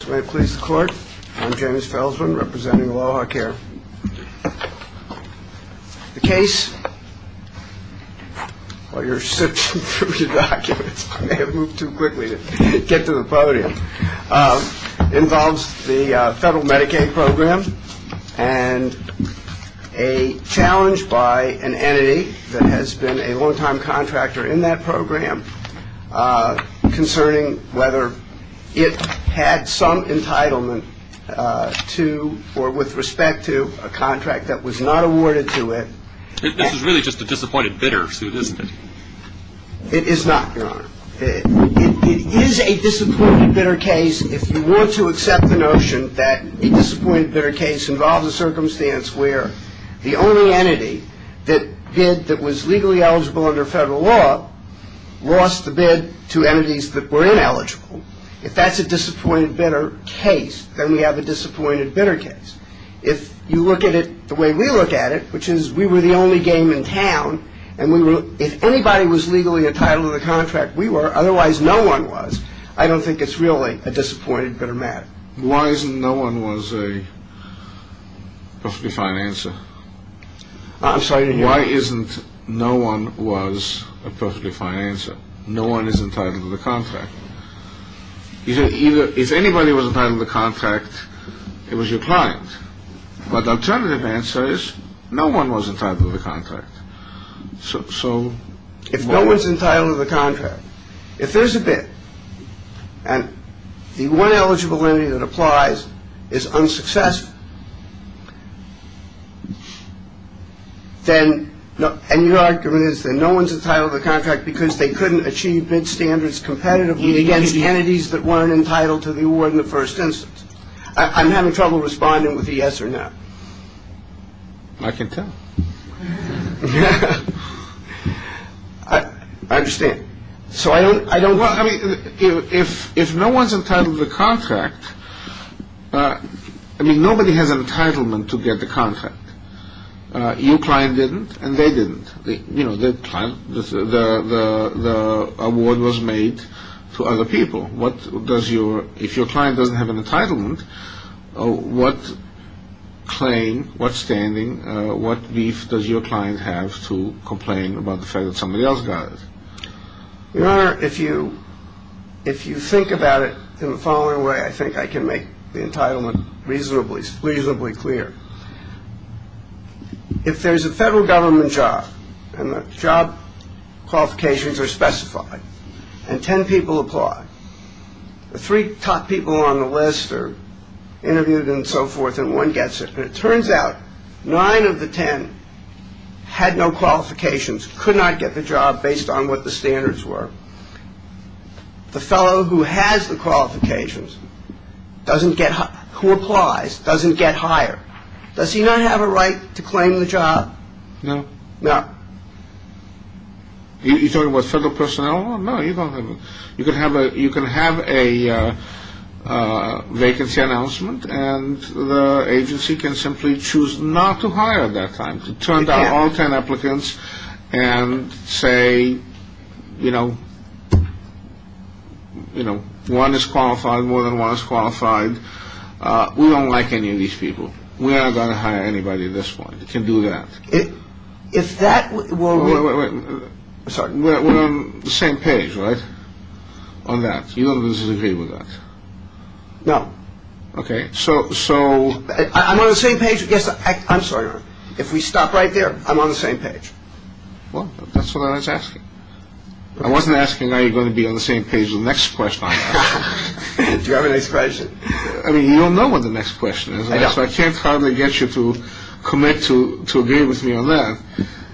Please the court. I'm James Felsman, representing AlohaCare. The case, while you're searching for your documents, I may have moved too quickly to get to the podium, involves the federal Medicaid program and a challenge by an entity that has been a long-time contractor in that to or with respect to a contract that was not awarded to it. This is really just a disappointed bidder suit, isn't it? It is not, Your Honor. It is a disappointed bidder case if you want to accept the notion that a disappointed bidder case involves a circumstance where the only entity that bid that was legally eligible under federal law lost the bid to entities that were ineligible. If that's a disappointed bidder case, then we have a disappointed bidder case. If you look at it the way we look at it, which is we were the only game in town, and if anybody was legally entitled to the contract we were, otherwise no one was, I don't think it's really a disappointed bidder matter. Why isn't no one was a perfectly fine answer? I'm sorry, Your Honor. Why isn't no one was a perfectly fine answer? No one is entitled to the contract. If anybody was entitled to the contract, it was your client. But the alternative answer is no one was entitled to the contract. If no one's entitled to the contract, if there's a bid and the one eligible entity that applies is unsuccessful, then your argument is that no one's entitled to the contract because they couldn't achieve bid standards competitively against entities that weren't entitled to the award in the first instance. I'm having trouble responding with a yes or no. I can tell. I understand. If no one's entitled to the contract, nobody has an entitlement to get the contract. Your client didn't and they didn't. The award was made to other people. If your client doesn't have an entitlement, what claim, what standing, what beef does your client have to complain about the fact that somebody else got it? Your Honor, if you think about it in the following way, I think I can make the entitlement reasonably clear. If there's a federal government job and the job qualifications are specified and ten people apply, the three top people on the list are interviewed and so forth and one gets it. And it turns out nine of the ten had no qualifications, could not get the job based on what the standards were. The fellow who has the qualifications, who applies, doesn't get hired. Does he not have a right to claim the job? No. No. You're talking about federal personnel? You can have a vacancy announcement and the agency can simply choose not to hire at that time, to turn down all ten applicants and say, you know, one is qualified, more than one is qualified. We don't like any of these people. We're not going to hire anybody at this point. You can do that. If that were... Sorry. We're on the same page, right, on that? You don't disagree with that? No. Okay. So... I'm on the same page. Yes, I'm sorry, Your Honor. If we stop right there, I'm on the same page. Well, that's what I was asking. I wasn't asking are you going to be on the same page with the next question I ask. Do you have a next question? I mean, you don't know what the next question is. I don't. So I can't probably get you to commit to agree with me on that.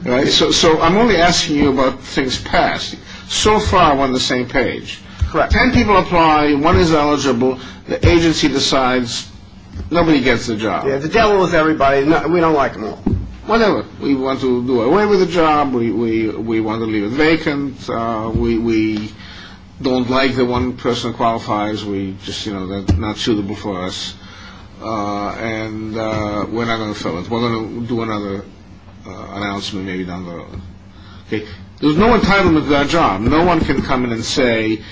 Right? So I'm only asking you about things past. So far, we're on the same page. Correct. Ten people apply. One is eligible. The agency decides. Nobody gets the job. The devil is everybody. We don't like them all. Whatever. We want to do away with the job. We want to leave it vacant. We don't like that one person qualifies. We just, you know, that's not suitable for us. And we're not going to fill it. We're going to do another announcement maybe down the road. Okay. There's no entitlement to that job. No one can come in and say,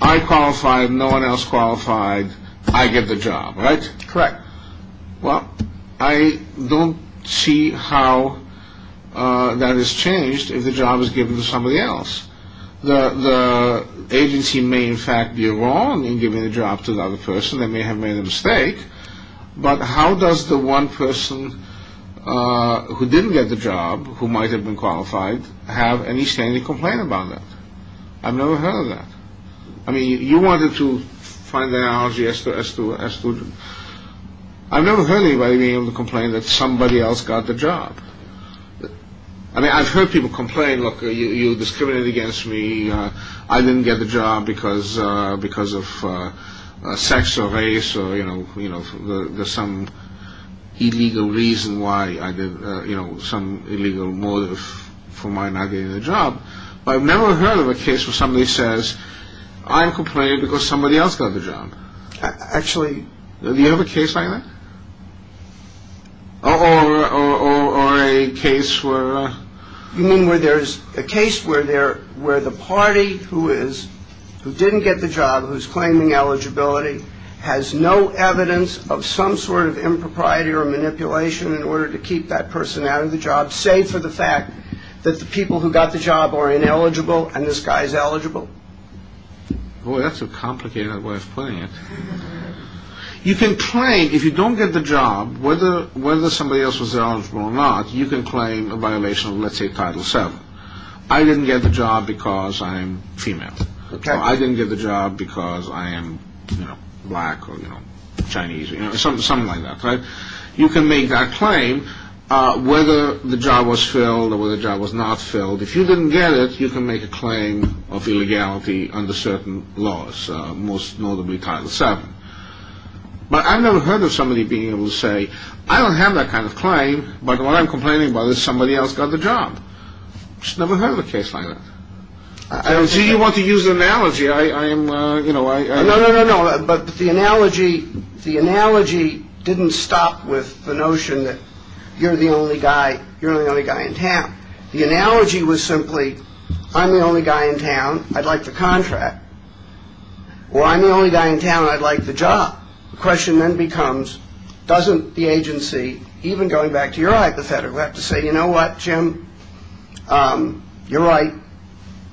I qualified. No one else qualified. I get the job. Right? Correct. Well, I don't see how that is changed if the job is given to somebody else. The agency may, in fact, be wrong in giving the job to the other person. They may have made a mistake. But how does the one person who didn't get the job, who might have been qualified, have any standing to complain about that? I've never heard of that. I mean, you wanted to find an analogy as to the job. I've never heard anybody being able to complain that somebody else got the job. I mean, I've heard people complain, look, you discriminated against me. I didn't get the job because of sex or race or, you know, there's some illegal reason why I did, you know, some illegal motive for my not getting the job. But I've never heard of a case where somebody says, I'm complaining because somebody else got the job. Actually... Do you have a case like that? Or a case where... You mean where there's a case where the party who didn't get the job, who's claiming eligibility, has no evidence of some sort of impropriety or manipulation in order to keep that person out of the job, save for the fact that the people who got the job are ineligible and this guy is eligible? Boy, that's a complicated way of putting it. You can claim, if you don't get the job, whether somebody else was eligible or not, you can claim a violation of, let's say, Title VII. I didn't get the job because I'm female. I didn't get the job because I am, you know, black or, you know, Chinese or something like that. You can make that claim whether the job was filled or whether the job was not filled. If you didn't get it, you can make a claim of illegality under certain laws, most notably Title VII. But I've never heard of somebody being able to say, I don't have that kind of claim, but what I'm complaining about is somebody else got the job. I've just never heard of a case like that. I don't see you want to use an analogy. I am, you know, I... No, no, no, no, but the analogy didn't stop with the notion that you're the only guy in town. The analogy was simply, I'm the only guy in town, I'd like the contract. Or I'm the only guy in town, I'd like the job. The question then becomes, doesn't the agency, even going back to your hypothetical, have to say, you know what, Jim, you're right,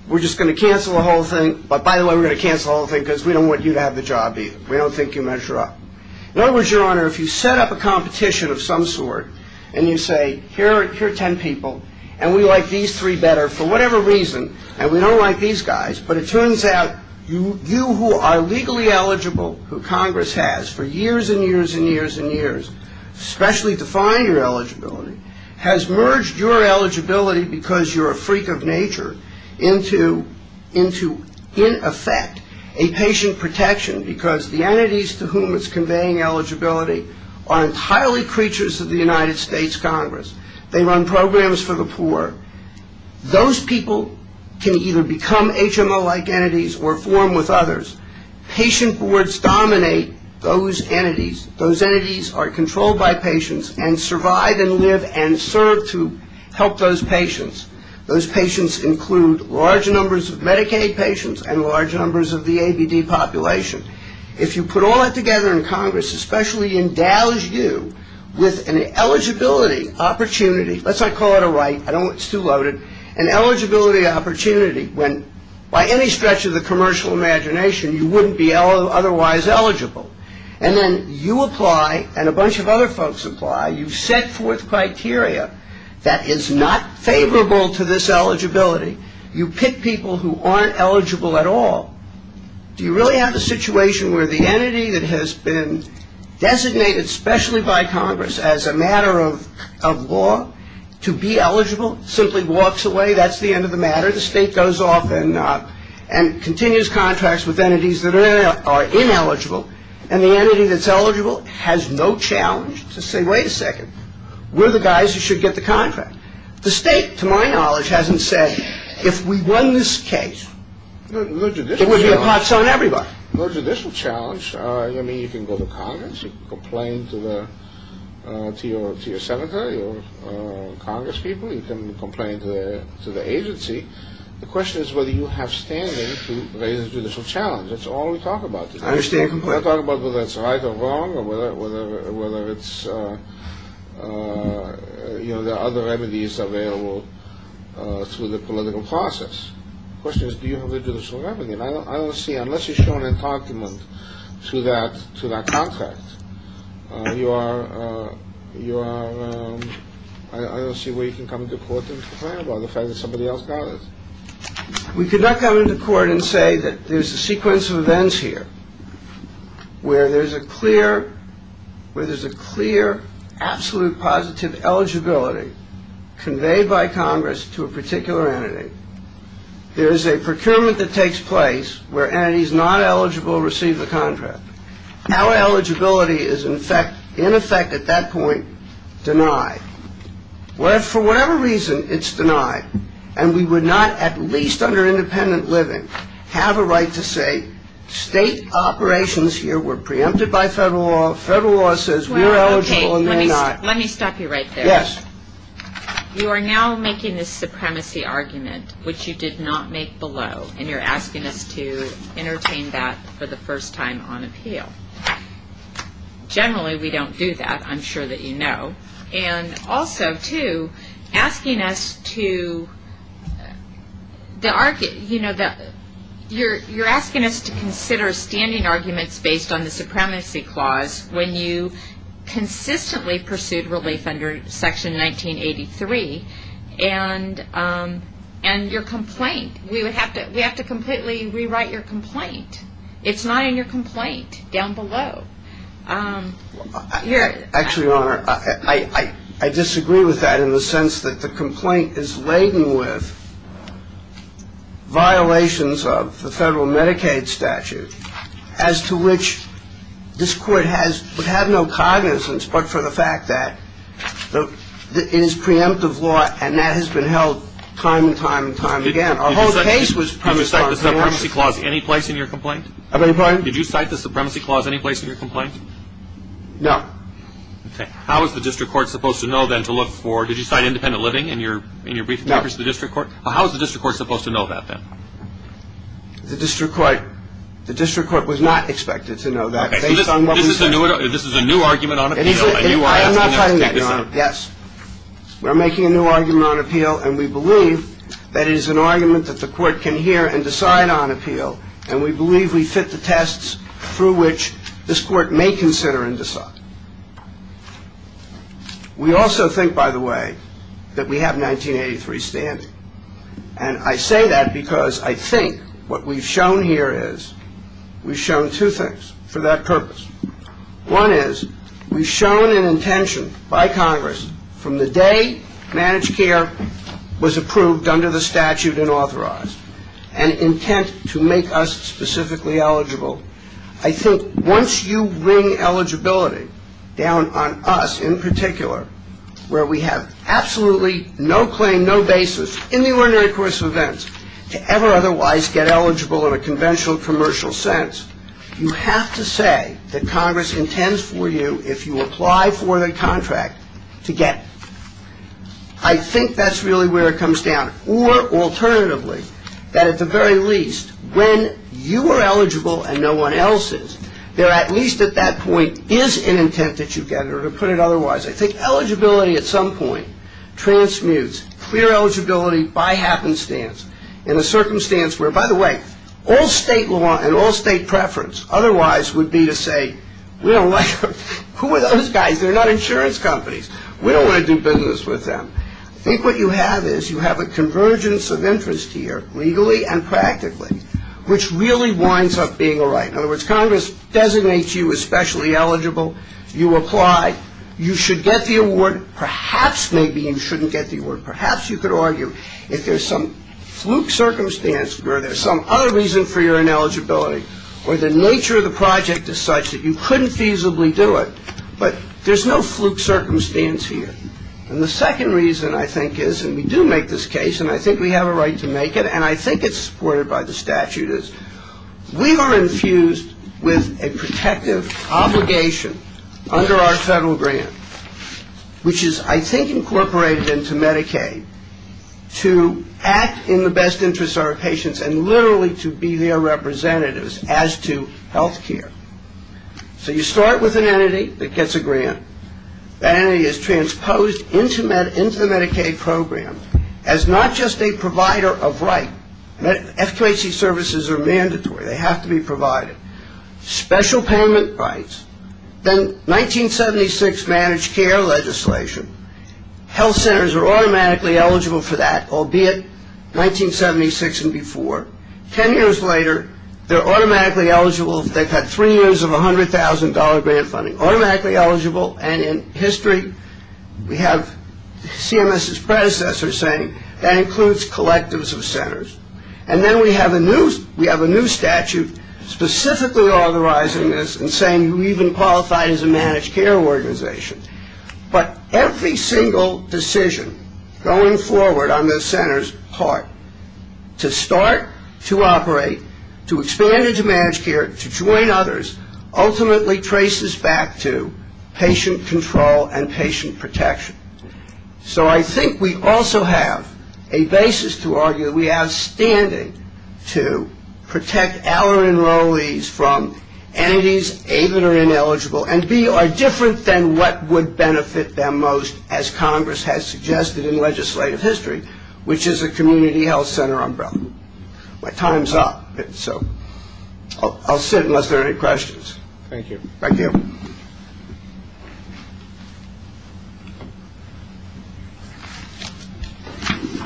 we're just going to cancel the whole thing, but by the way, we're going to cancel the whole thing because we don't want you to have the job either. We don't think you measure up. In other words, Your Honor, if you set up a competition of some sort and you say, here are ten people and we like these three better for whatever reason and we don't like these guys, but it turns out you who are legally eligible, who Congress has for years and years and years and years, especially to find your eligibility, has merged your eligibility because you're a freak of nature into, in effect, a patient protection because the entities to whom it's conveying eligibility are entirely creatures of the United States Congress. They run programs for the poor. Those people can either become HMO-like entities or form with others. Patient boards dominate those entities. Those entities are controlled by patients and survive and live and serve to help those patients. Those patients include large numbers of Medicaid patients and large numbers of the ABD population. If you put all that together in Congress, especially endows you with an eligibility opportunity, let's not call it a right, it's too loaded, an eligibility opportunity when, by any stretch of the commercial imagination, you wouldn't be otherwise eligible. And then you apply and a bunch of other folks apply. You set forth criteria that is not favorable to this eligibility. You pick people who aren't eligible at all. Do you really have a situation where the entity that has been designated specially by Congress as a matter of law to be eligible simply walks away? That's the end of the matter. The state goes off and continues contracts with entities that are ineligible. And the entity that's eligible has no challenge to say, wait a second, we're the guys who should get the contract. The state, to my knowledge, hasn't said, if we won this case, it would be a hot zone everybody. No judicial challenge. I mean, you can go to Congress. You can complain to your senator, your Congress people. You can complain to the agency. The question is whether you have standing to raise a judicial challenge. That's all we talk about. I understand your complaint. We don't talk about whether it's right or wrong or whether it's, you know, there are other remedies available through the political process. The question is, do you have a judicial remedy? And I don't see, unless you're shown a document to that contract, you are, I don't see where you can come to court and complain about the fact that somebody else got it. We could not come into court and say that there's a sequence of events here where there's a clear, where there's a clear, absolute positive eligibility conveyed by Congress to a particular entity. There is a procurement that takes place where entities not eligible receive the contract. Our eligibility is in effect, in effect at that point, denied. For whatever reason, it's denied. And we would not, at least under independent living, have a right to say, state operations here were preempted by federal law, federal law says we're eligible and they're not. Let me stop you right there. Yes. You are now making this supremacy argument, which you did not make below, and you're asking us to entertain that for the first time on appeal. Generally, we don't do that. I'm sure that you know. And also, too, asking us to, you know, you're asking us to consider standing arguments based on the supremacy clause when you consistently pursued relief under Section 1983 and your complaint. We have to completely rewrite your complaint. It's not in your complaint down below. Actually, Your Honor, I disagree with that in the sense that the complaint is laden with violations of the federal Medicaid statute as to which this Court has had no cognizance but for the fact that it is preemptive law and that has been held time and time and time again. Our whole case was premised on preemptive law. Did you cite the supremacy clause any place in your complaint? I beg your pardon? Did you cite the supremacy clause any place in your complaint? No. Okay. How is the District Court supposed to know then to look for – did you cite independent living in your brief papers to the District Court? No. Well, how is the District Court supposed to know that then? The District Court was not expected to know that based on what we said. So this is a new argument on appeal, and you are asking us to take this on? I am not trying to, Your Honor. Yes. We're making a new argument on appeal, and we believe that it is an argument that the Court can hear and decide on appeal. And we believe we fit the tests through which this Court may consider and decide. We also think, by the way, that we have 1983 standing. And I say that because I think what we've shown here is we've shown two things for that purpose. One is we've shown an intention by Congress from the day managed care was approved under the statute and authorized and intent to make us specifically eligible. I think once you bring eligibility down on us in particular where we have absolutely no claim, no basis in the ordinary course of events to ever otherwise get eligible in a conventional commercial sense, you have to say that Congress intends for you, if you apply for the contract, to get it. I think that's really where it comes down. Or, alternatively, that at the very least, when you are eligible and no one else is, there at least at that point is an intent that you get or to put it otherwise. I think eligibility at some point transmutes clear eligibility by happenstance in a circumstance where, by the way, all state law and all state preference otherwise would be to say we don't like them. Who are those guys? They're not insurance companies. We don't want to do business with them. I think what you have is you have a convergence of interest here, legally and practically, which really winds up being all right. In other words, Congress designates you as specially eligible. You apply. You should get the award. Perhaps maybe you shouldn't get the award. Perhaps you could argue if there's some fluke circumstance where there's some other reason for your ineligibility or the nature of the project is such that you couldn't feasibly do it, but there's no fluke circumstance here. And the second reason I think is, and we do make this case, and I think we have a right to make it, and I think it's supported by the statute, is we are infused with a protective obligation under our federal grant, which is I think incorporated into Medicaid to act in the best interest of our patients and literally to be their representatives as to health care. So you start with an entity that gets a grant. That entity is transposed into the Medicaid program as not just a provider of right. FQHC services are mandatory. They have to be provided. Special payment rights. Then 1976 managed care legislation. Health centers are automatically eligible for that, albeit 1976 and before. Ten years later, they're automatically eligible if they've had three years of $100,000 grant funding. They're automatically eligible, and in history we have CMS's predecessor saying that includes collectives of centers. And then we have a new statute specifically authorizing this and saying you even qualify as a managed care organization. But every single decision going forward on this center's part to start, to operate, to expand into managed care, to join others, ultimately traces back to patient control and patient protection. So I think we also have a basis to argue we have standing to protect our enrollees from entities A, that are ineligible, and B, are different than what would benefit them most as Congress has suggested in legislative history, which is a community health center umbrella. My time's up. So I'll sit unless there are any questions. Thank you. Thank you.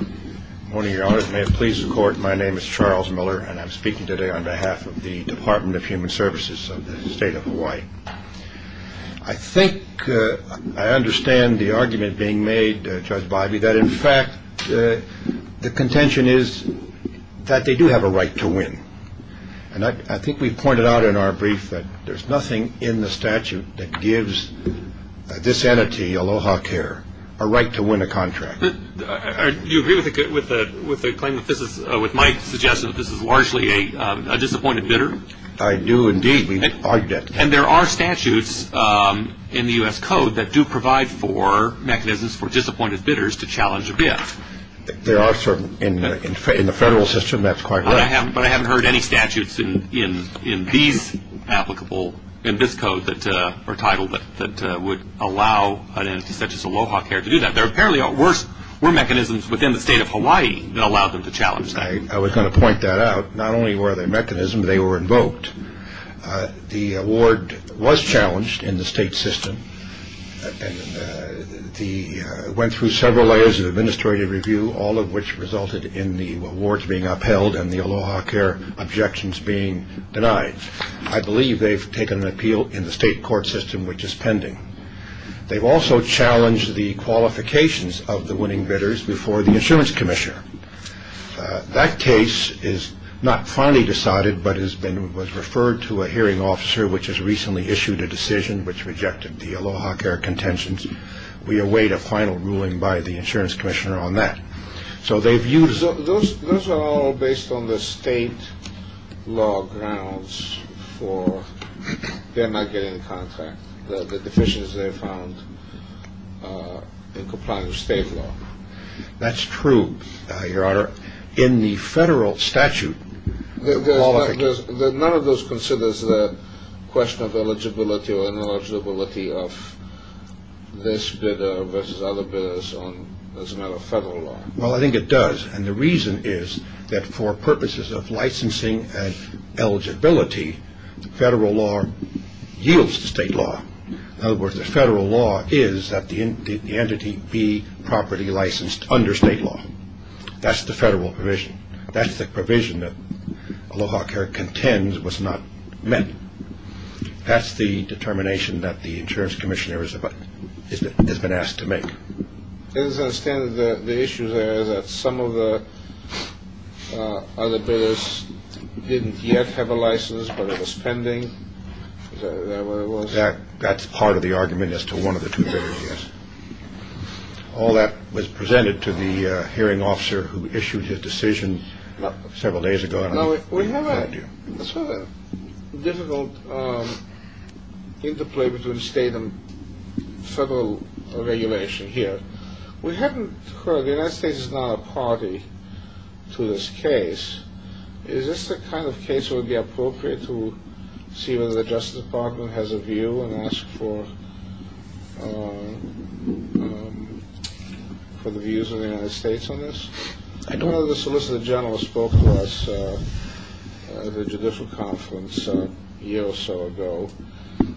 Good morning, Your Honors. May it please the Court, my name is Charles Miller, and I'm speaking today on behalf of the Department of Human Services of the State of Hawaii. I think I understand the argument being made, Judge Bivey, that in fact the contention is that they do have a right to win. And I think we've pointed out in our brief that there's nothing in the statute that gives this entity, Aloha Care, a right to win a contract. Do you agree with the claim that this is, with my suggestion that this is largely a disappointed bidder? I do indeed. We argued it. And there are statutes in the U.S. Code that do provide for mechanisms for disappointed bidders to challenge a bid. There are certain, in the federal system, that's quite right. But I haven't heard any statutes in these applicable, in this code that are titled that would allow an entity such as Aloha Care to do that. There apparently were mechanisms within the State of Hawaii that allowed them to challenge that. I was going to point that out. Not only were there mechanisms, they were invoked. The award was challenged in the state system. It went through several layers of administrative review, all of which resulted in the awards being upheld and the Aloha Care objections being denied. I believe they've taken an appeal in the state court system, which is pending. They've also challenged the qualifications of the winning bidders before the insurance commissioner. That case is not finally decided, but has been referred to a hearing officer, which has recently issued a decision which rejected the Aloha Care contentions. We await a final ruling by the insurance commissioner on that. So they've used. Those are all based on the state law grounds for them not getting the contract, the deficiencies they found in complying with state law. That's true, Your Honor. In the federal statute, none of those considers the question of eligibility or ineligibility of this bidder versus other bidders as a matter of federal law. Well, I think it does. And the reason is that for purposes of licensing and eligibility, federal law yields to state law. In other words, the federal law is that the entity be properly licensed under state law. That's the federal provision. That's the provision that Aloha Care contends was not met. That's the determination that the insurance commissioner has been asked to make. The issue is that some of the other bidders didn't yet have a license, but it was pending. That's part of the argument as to one of the two. All that was presented to the hearing officer who issued his decision several days ago. Now, we have a difficult interplay between state and federal regulation here. We hadn't heard the United States is not a party to this case. Is this the kind of case where it would be appropriate to see whether the Justice Department has a view and ask for the views of the United States on this? I know the Solicitor General spoke to us at the Judicial Conference a year or so ago.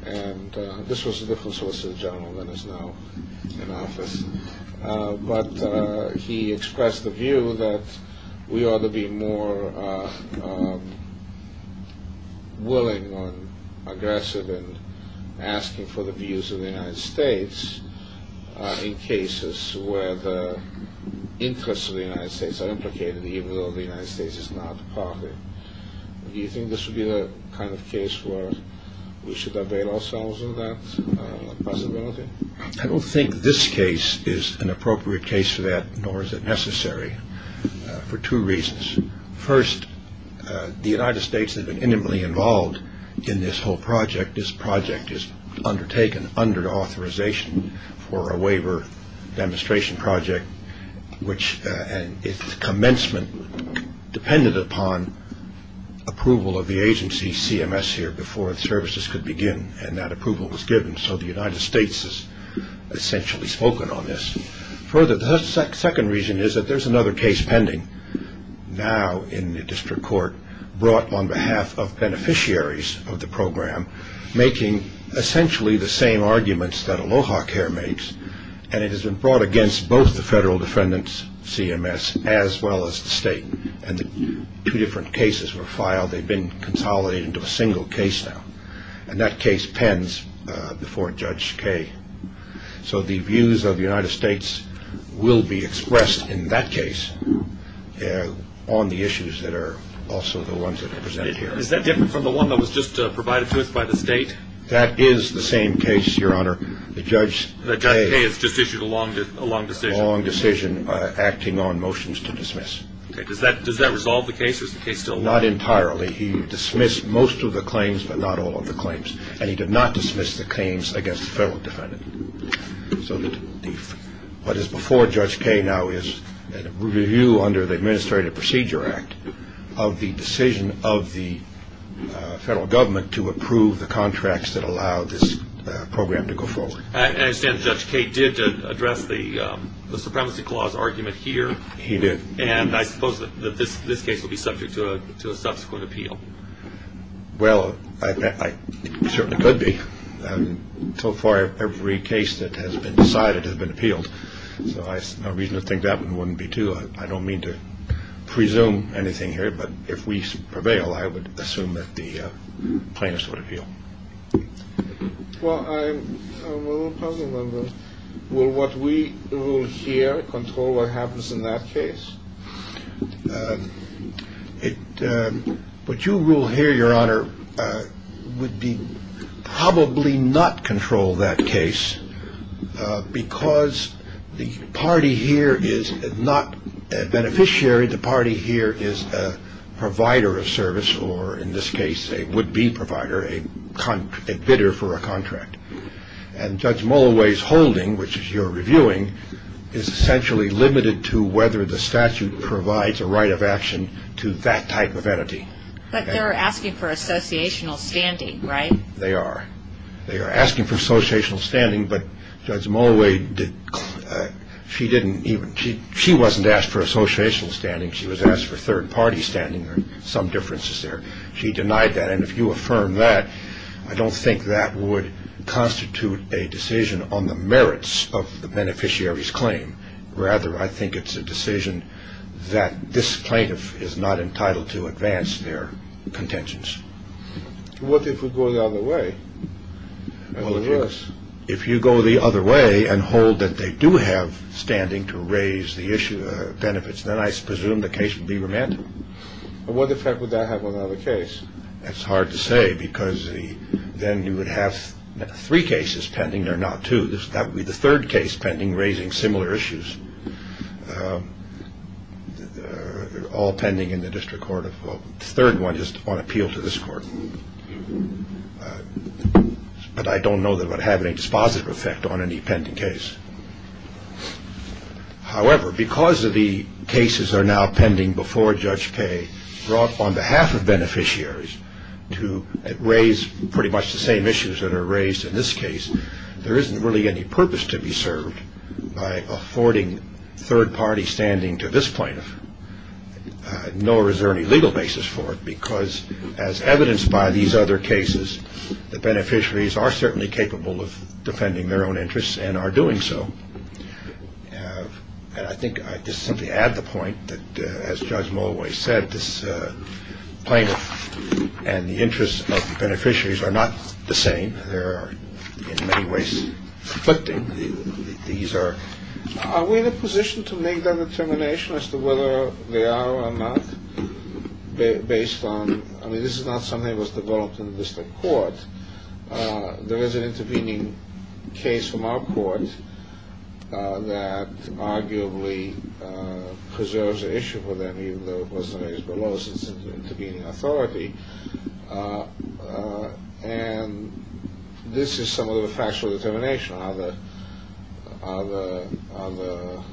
And this was a different Solicitor General than is now in office. But he expressed the view that we ought to be more willing or aggressive in asking for the views of the United States in cases where the interests of the United States are implicated, even though the United States is not a party. Do you think this would be the kind of case where we should abate ourselves in that possibility? I don't think this case is an appropriate case for that, nor is it necessary, for two reasons. First, the United States has been intimately involved in this whole project. This project is undertaken under authorization for a waiver demonstration project, which its commencement depended upon approval of the agency CMS here before services could begin. And that approval was given. So the United States has essentially spoken on this. Further, the second reason is that there's another case pending now in the district court brought on behalf of beneficiaries of the program, making essentially the same arguments that ALOHA Care makes. And it has been brought against both the federal defendants, CMS, as well as the state. And two different cases were filed. They've been consolidated into a single case now. And that case pens before Judge Kaye. So the views of the United States will be expressed in that case on the issues that are also the ones that are presented here. Is that different from the one that was just provided to us by the state? That is the same case, Your Honor. Judge Kaye has just issued a long decision. A long decision acting on motions to dismiss. Okay. Does that resolve the case, or is the case still? Not entirely. He dismissed most of the claims, but not all of the claims. And he did not dismiss the claims against the federal defendant. So what is before Judge Kaye now is a review under the Administrative Procedure Act of the decision of the federal government to approve the contracts that allow this program to go forward. I understand Judge Kaye did address the supremacy clause argument here. He did. And I suppose that this case will be subject to a subsequent appeal. Well, it certainly could be. So far, every case that has been decided has been appealed. So no reason to think that one wouldn't be, too. I don't mean to presume anything here, but if we prevail, I would assume that the plaintiffs would appeal. Well, I'm a little puzzled on this. Will what we rule here control what happens in that case? What you rule here, Your Honor, would probably not control that case because the party here is not a beneficiary. The party here is a provider of service or, in this case, a would-be provider, a bidder for a contract. And Judge Molaway's holding, which you're reviewing, is essentially limited to whether the statute provides a right of action to that type of entity. But they're asking for associational standing, right? They are. They are asking for associational standing. But Judge Molaway, she wasn't asked for associational standing. She was asked for third-party standing. There are some differences there. She denied that. And if you affirm that, I don't think that would constitute a decision on the merits of the beneficiary's claim. Rather, I think it's a decision that this plaintiff is not entitled to advance their contentions. What if we go the other way? Well, if you go the other way and hold that they do have standing to raise the issue of benefits, then I presume the case would be remanded. What effect would that have on another case? That's hard to say because then you would have three cases pending. They're not two. That would be the third case pending, raising similar issues. They're all pending in the district court. The third one is on appeal to this court. But I don't know that it would have any dispositive effect on any pending case. However, because the cases are now pending before Judge Paye brought on behalf of beneficiaries to raise pretty much the same issues that are raised in this case, there isn't really any purpose to be served by affording third-party standing to this plaintiff, nor is there any legal basis for it because, as evidenced by these other cases, the beneficiaries are certainly capable of defending their own interests and are doing so. And I think I'd just simply add the point that, as Judge Mulway said, this plaintiff and the interests of the beneficiaries are not the same. They're, in many ways, conflicting. Are we in a position to make that determination as to whether they are or not based on – I mean, this is not something that was developed in the district court. There is an intervening case from our court that arguably preserves the issue for them, even though it wasn't raised below since it's an intervening authority. And this is some of the facts for determination, how the –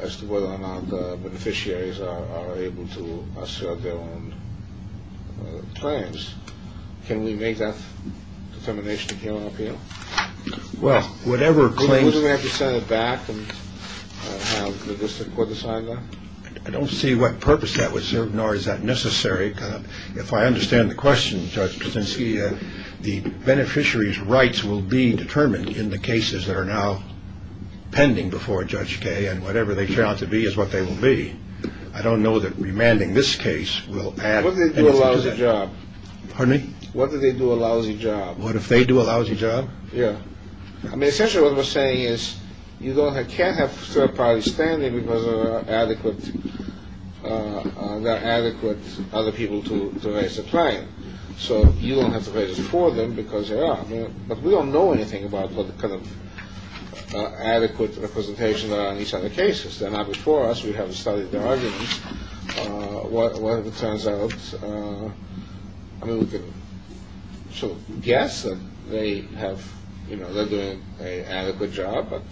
as to whether or not the beneficiaries are able to assert their own claims. Can we make that determination here on appeal? Well, whatever claims – Wouldn't we have to send it back and have the district court decide that? I don't see what purpose that would serve, nor is that necessary. If I understand the question, Judge Krasinski, the beneficiaries' rights will be determined in the cases that are now pending before Judge Kaye, and whatever they turn out to be is what they will be. I don't know that remanding this case will add anything to that. What if they do a lousy job? Pardon me? What if they do a lousy job? What if they do a lousy job? Yeah. I mean, essentially what we're saying is you can't have third parties standing because there are not adequate other people to raise a claim. So you don't have to raise it for them because they are. But we don't know anything about what kind of adequate representation there are in these other cases. They're not before us. We haven't studied their arguments. What if it turns out, I mean, we can sort of guess that they have, you know, they're doing an adequate job, but,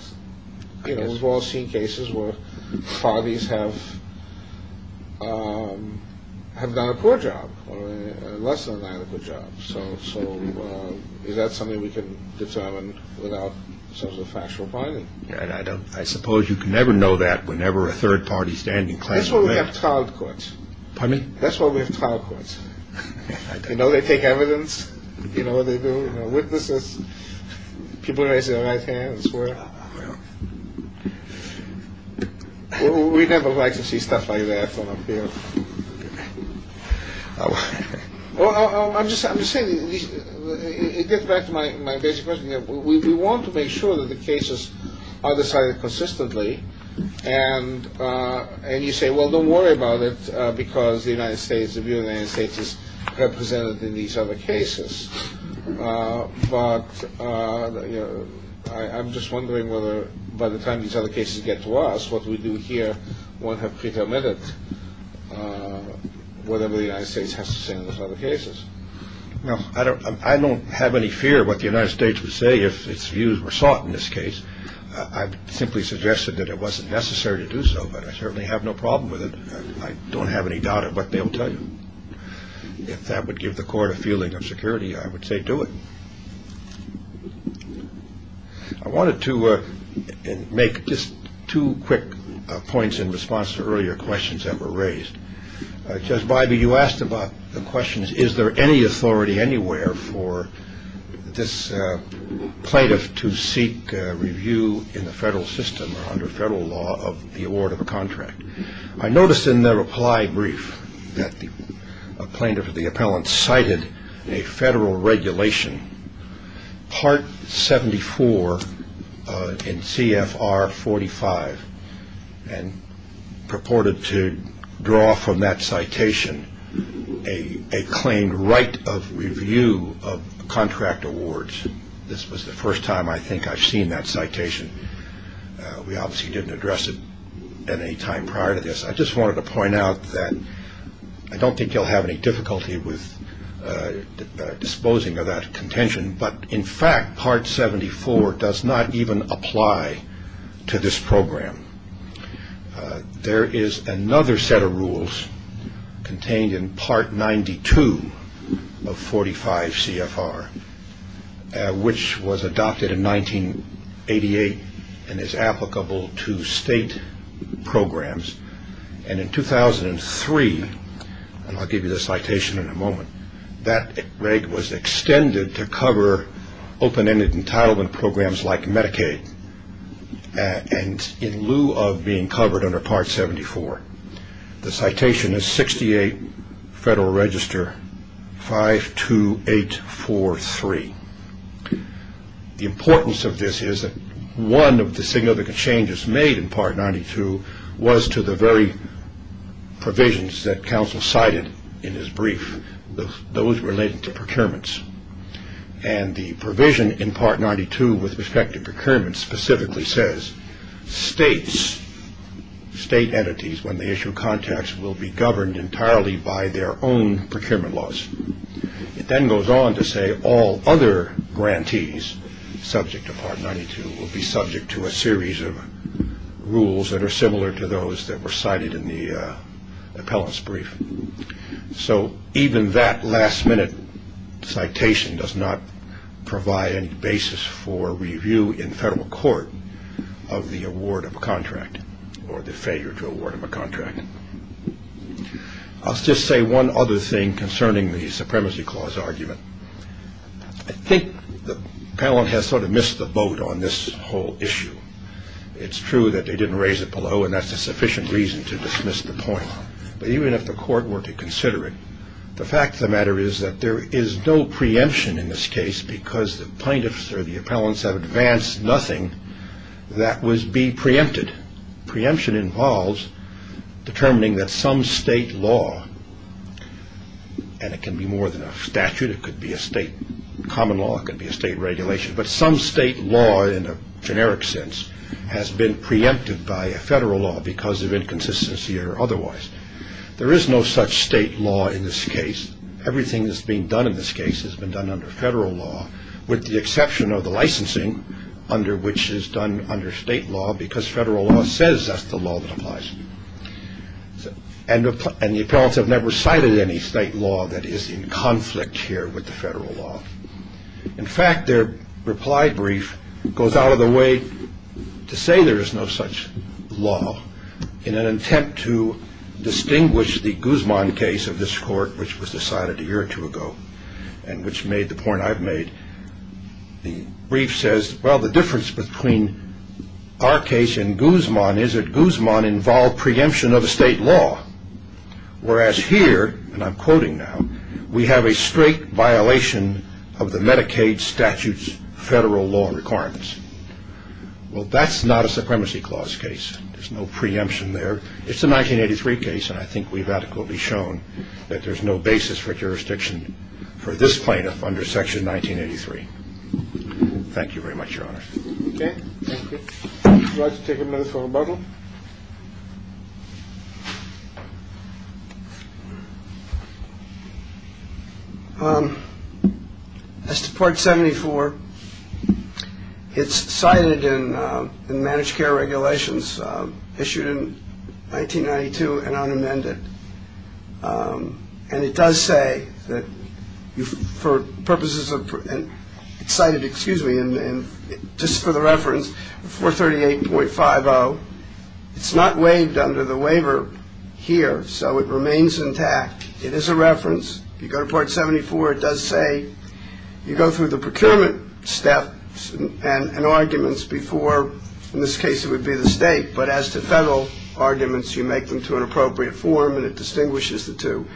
you know, we've all seen cases where parties have done a poor job or less than an adequate job. So is that something we can determine without sort of a factual finding? I suppose you can never know that whenever a third party standing claim is met. That's why we have trial courts. Pardon me? That's why we have trial courts. You know, they take evidence. You know what they do? You know, witnesses. People raise their right hand and swear. We never like to see stuff like that. I'm just saying, it gets back to my basic question. We want to make sure that the cases are decided consistently and you say, well, don't worry about it because the United States, the view of the United States is represented in these other cases. But, you know, I'm just wondering whether by the time these other cases get to us, what we do here won't have pretermited whatever the United States has to say in those other cases. Well, I don't have any fear of what the United States would say if its views were sought in this case. I simply suggested that it wasn't necessary to do so, but I certainly have no problem with it. I don't have any doubt of what they will tell you. If that would give the court a feeling of security, I would say do it. I wanted to make just two quick points in response to earlier questions that were raised. Judge Bybee, you asked about the questions, is there any authority anywhere for this plaintiff to seek review in the federal system or under federal law of the award of a contract? I noticed in the reply brief that the plaintiff or the appellant cited a federal regulation, Part 74 in CFR 45, and purported to draw from that citation a claimed right of review of contract awards. This was the first time I think I've seen that citation. We obviously didn't address it at any time prior to this. I just wanted to point out that I don't think you'll have any difficulty with disposing of that contention, but in fact Part 74 does not even apply to this program. There is another set of rules contained in Part 92 of 45 CFR, which was adopted in 1988 and is applicable to state programs, and in 2003, and I'll give you the citation in a moment, that right was extended to cover open-ended entitlement programs like Medicaid, and in lieu of being covered under Part 74, the citation is 68 Federal Register 52843. The importance of this is that one of the significant changes made in Part 92 was to the very provisions that counsel cited in his brief, those related to procurements, and the provision in Part 92 with respect to procurements specifically says states, state entities, when they issue contracts will be governed entirely by their own procurement laws. It then goes on to say all other grantees subject to Part 92 will be subject to a series of rules that are similar to those that were cited in the appellant's brief. So even that last-minute citation does not provide any basis for review in federal court of the award of a contract or the failure to award of a contract. I'll just say one other thing concerning the Supremacy Clause argument. I think the appellant has sort of missed the boat on this whole issue. It's true that they didn't raise it below, and that's a sufficient reason to dismiss the point, but even if the court were to consider it, the fact of the matter is that there is no preemption in this case because the plaintiffs or the appellants have advanced nothing that would be preempted. Preemption involves determining that some state law, and it can be more than a statute, it could be a state common law, it could be a state regulation, but some state law in a generic sense has been preempted by a federal law because of inconsistency or otherwise. There is no such state law in this case. Everything that's being done in this case has been done under federal law with the exception of the licensing, which is done under state law because federal law says that's the law that applies. And the appellants have never cited any state law that is in conflict here with the federal law. In fact, their reply brief goes out of the way to say there is no such law. In an attempt to distinguish the Guzman case of this court, which was decided a year or two ago, and which made the point I've made, the brief says, well, the difference between our case and Guzman is that Guzman involved preemption of a state law, whereas here, and I'm quoting now, we have a straight violation of the Medicaid statute's federal law requirements. Well, that's not a Supremacy Clause case. There's no preemption there. It's a 1983 case, and I think we've adequately shown that there's no basis for jurisdiction for this plaintiff under Section 1983. Thank you very much, Your Honor. Thank you. Would you like to take a minute for rebuttal? As to Part 74, it's cited in the managed care regulations issued in 1992 and unamended. And it does say that for purposes of cited, excuse me, and just for the reference, 438.50, it's not waived under the waiver here, so it remains intact. It is a reference. If you go to Part 74, it does say you go through the procurement steps and arguments before, in this case, it would be the state. But as to federal arguments, you make them to an appropriate form, and it distinguishes the two.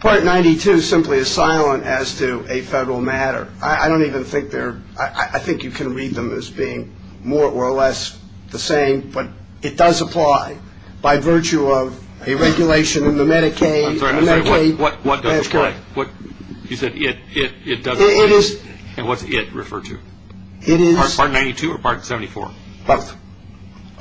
Part 92 simply is silent as to a federal matter. I don't even think they're – I think you can read them as being more or less the same, but it does apply by virtue of a regulation in the Medicaid. I'm sorry. I'm sorry. What does apply? You said it. It does. It is. And what's it referred to? It is. Part 92 or Part 74? Both.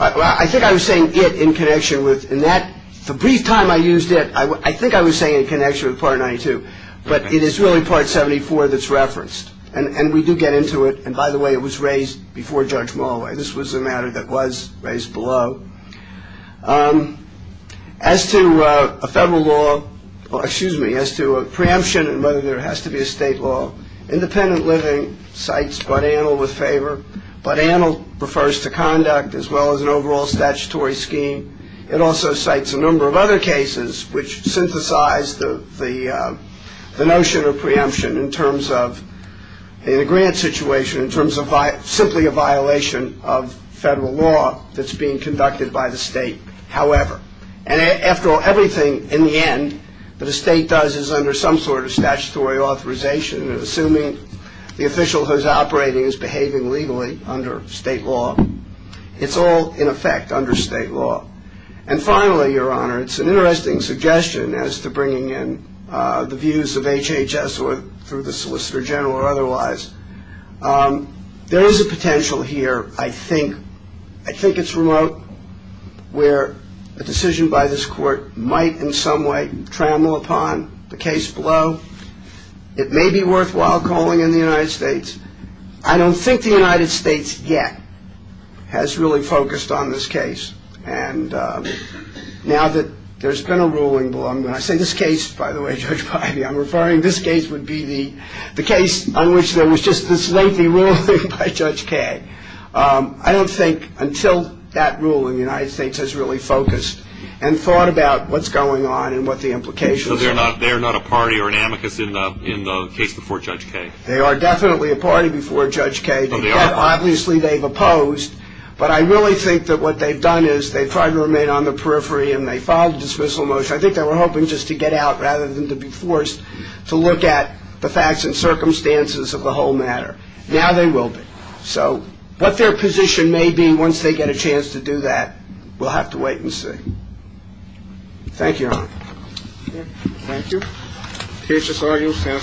I think I was saying it in connection with – in that – the brief time I used it, I think I was saying it in connection with Part 92. But it is really Part 74 that's referenced, and we do get into it. And, by the way, it was raised before Judge Mulway. This was a matter that was raised below. As to a federal law – or, excuse me, as to a preemption and whether there has to be a state law, independent living cites Bud Antle with favor. Bud Antle refers to conduct as well as an overall statutory scheme. It also cites a number of other cases which synthesize the notion of preemption in terms of – in a grant situation in terms of simply a violation of federal law that's being conducted by the state, however. And, after all, everything, in the end, that a state does is under some sort of statutory authorization, assuming the official who's operating is behaving legally under state law. It's all, in effect, under state law. And, finally, Your Honor, it's an interesting suggestion as to bringing in the views of HHS or through the Solicitor General or otherwise. There is a potential here, I think. I think it's remote where a decision by this Court might in some way trample upon the case below. It may be worthwhile calling in the United States. I don't think the United States yet has really focused on this case. And now that there's been a ruling – and when I say this case, by the way, Judge Piety, I'm referring – this case would be the case on which there was just this lengthy ruling by Judge Kaye. I don't think until that ruling the United States has really focused and thought about what's going on and what the implications are. They are not a party or an amicus in the case before Judge Kaye? They are definitely a party before Judge Kaye. Obviously, they've opposed. But I really think that what they've done is they've tried to remain on the periphery and they filed a dismissal motion. I think they were hoping just to get out rather than to be forced to look at the facts and circumstances of the whole matter. Now they will be. So what their position may be once they get a chance to do that, we'll have to wait and see. Thank you, Your Honor. Thank you. The case is argued and submitted. We are adjourned.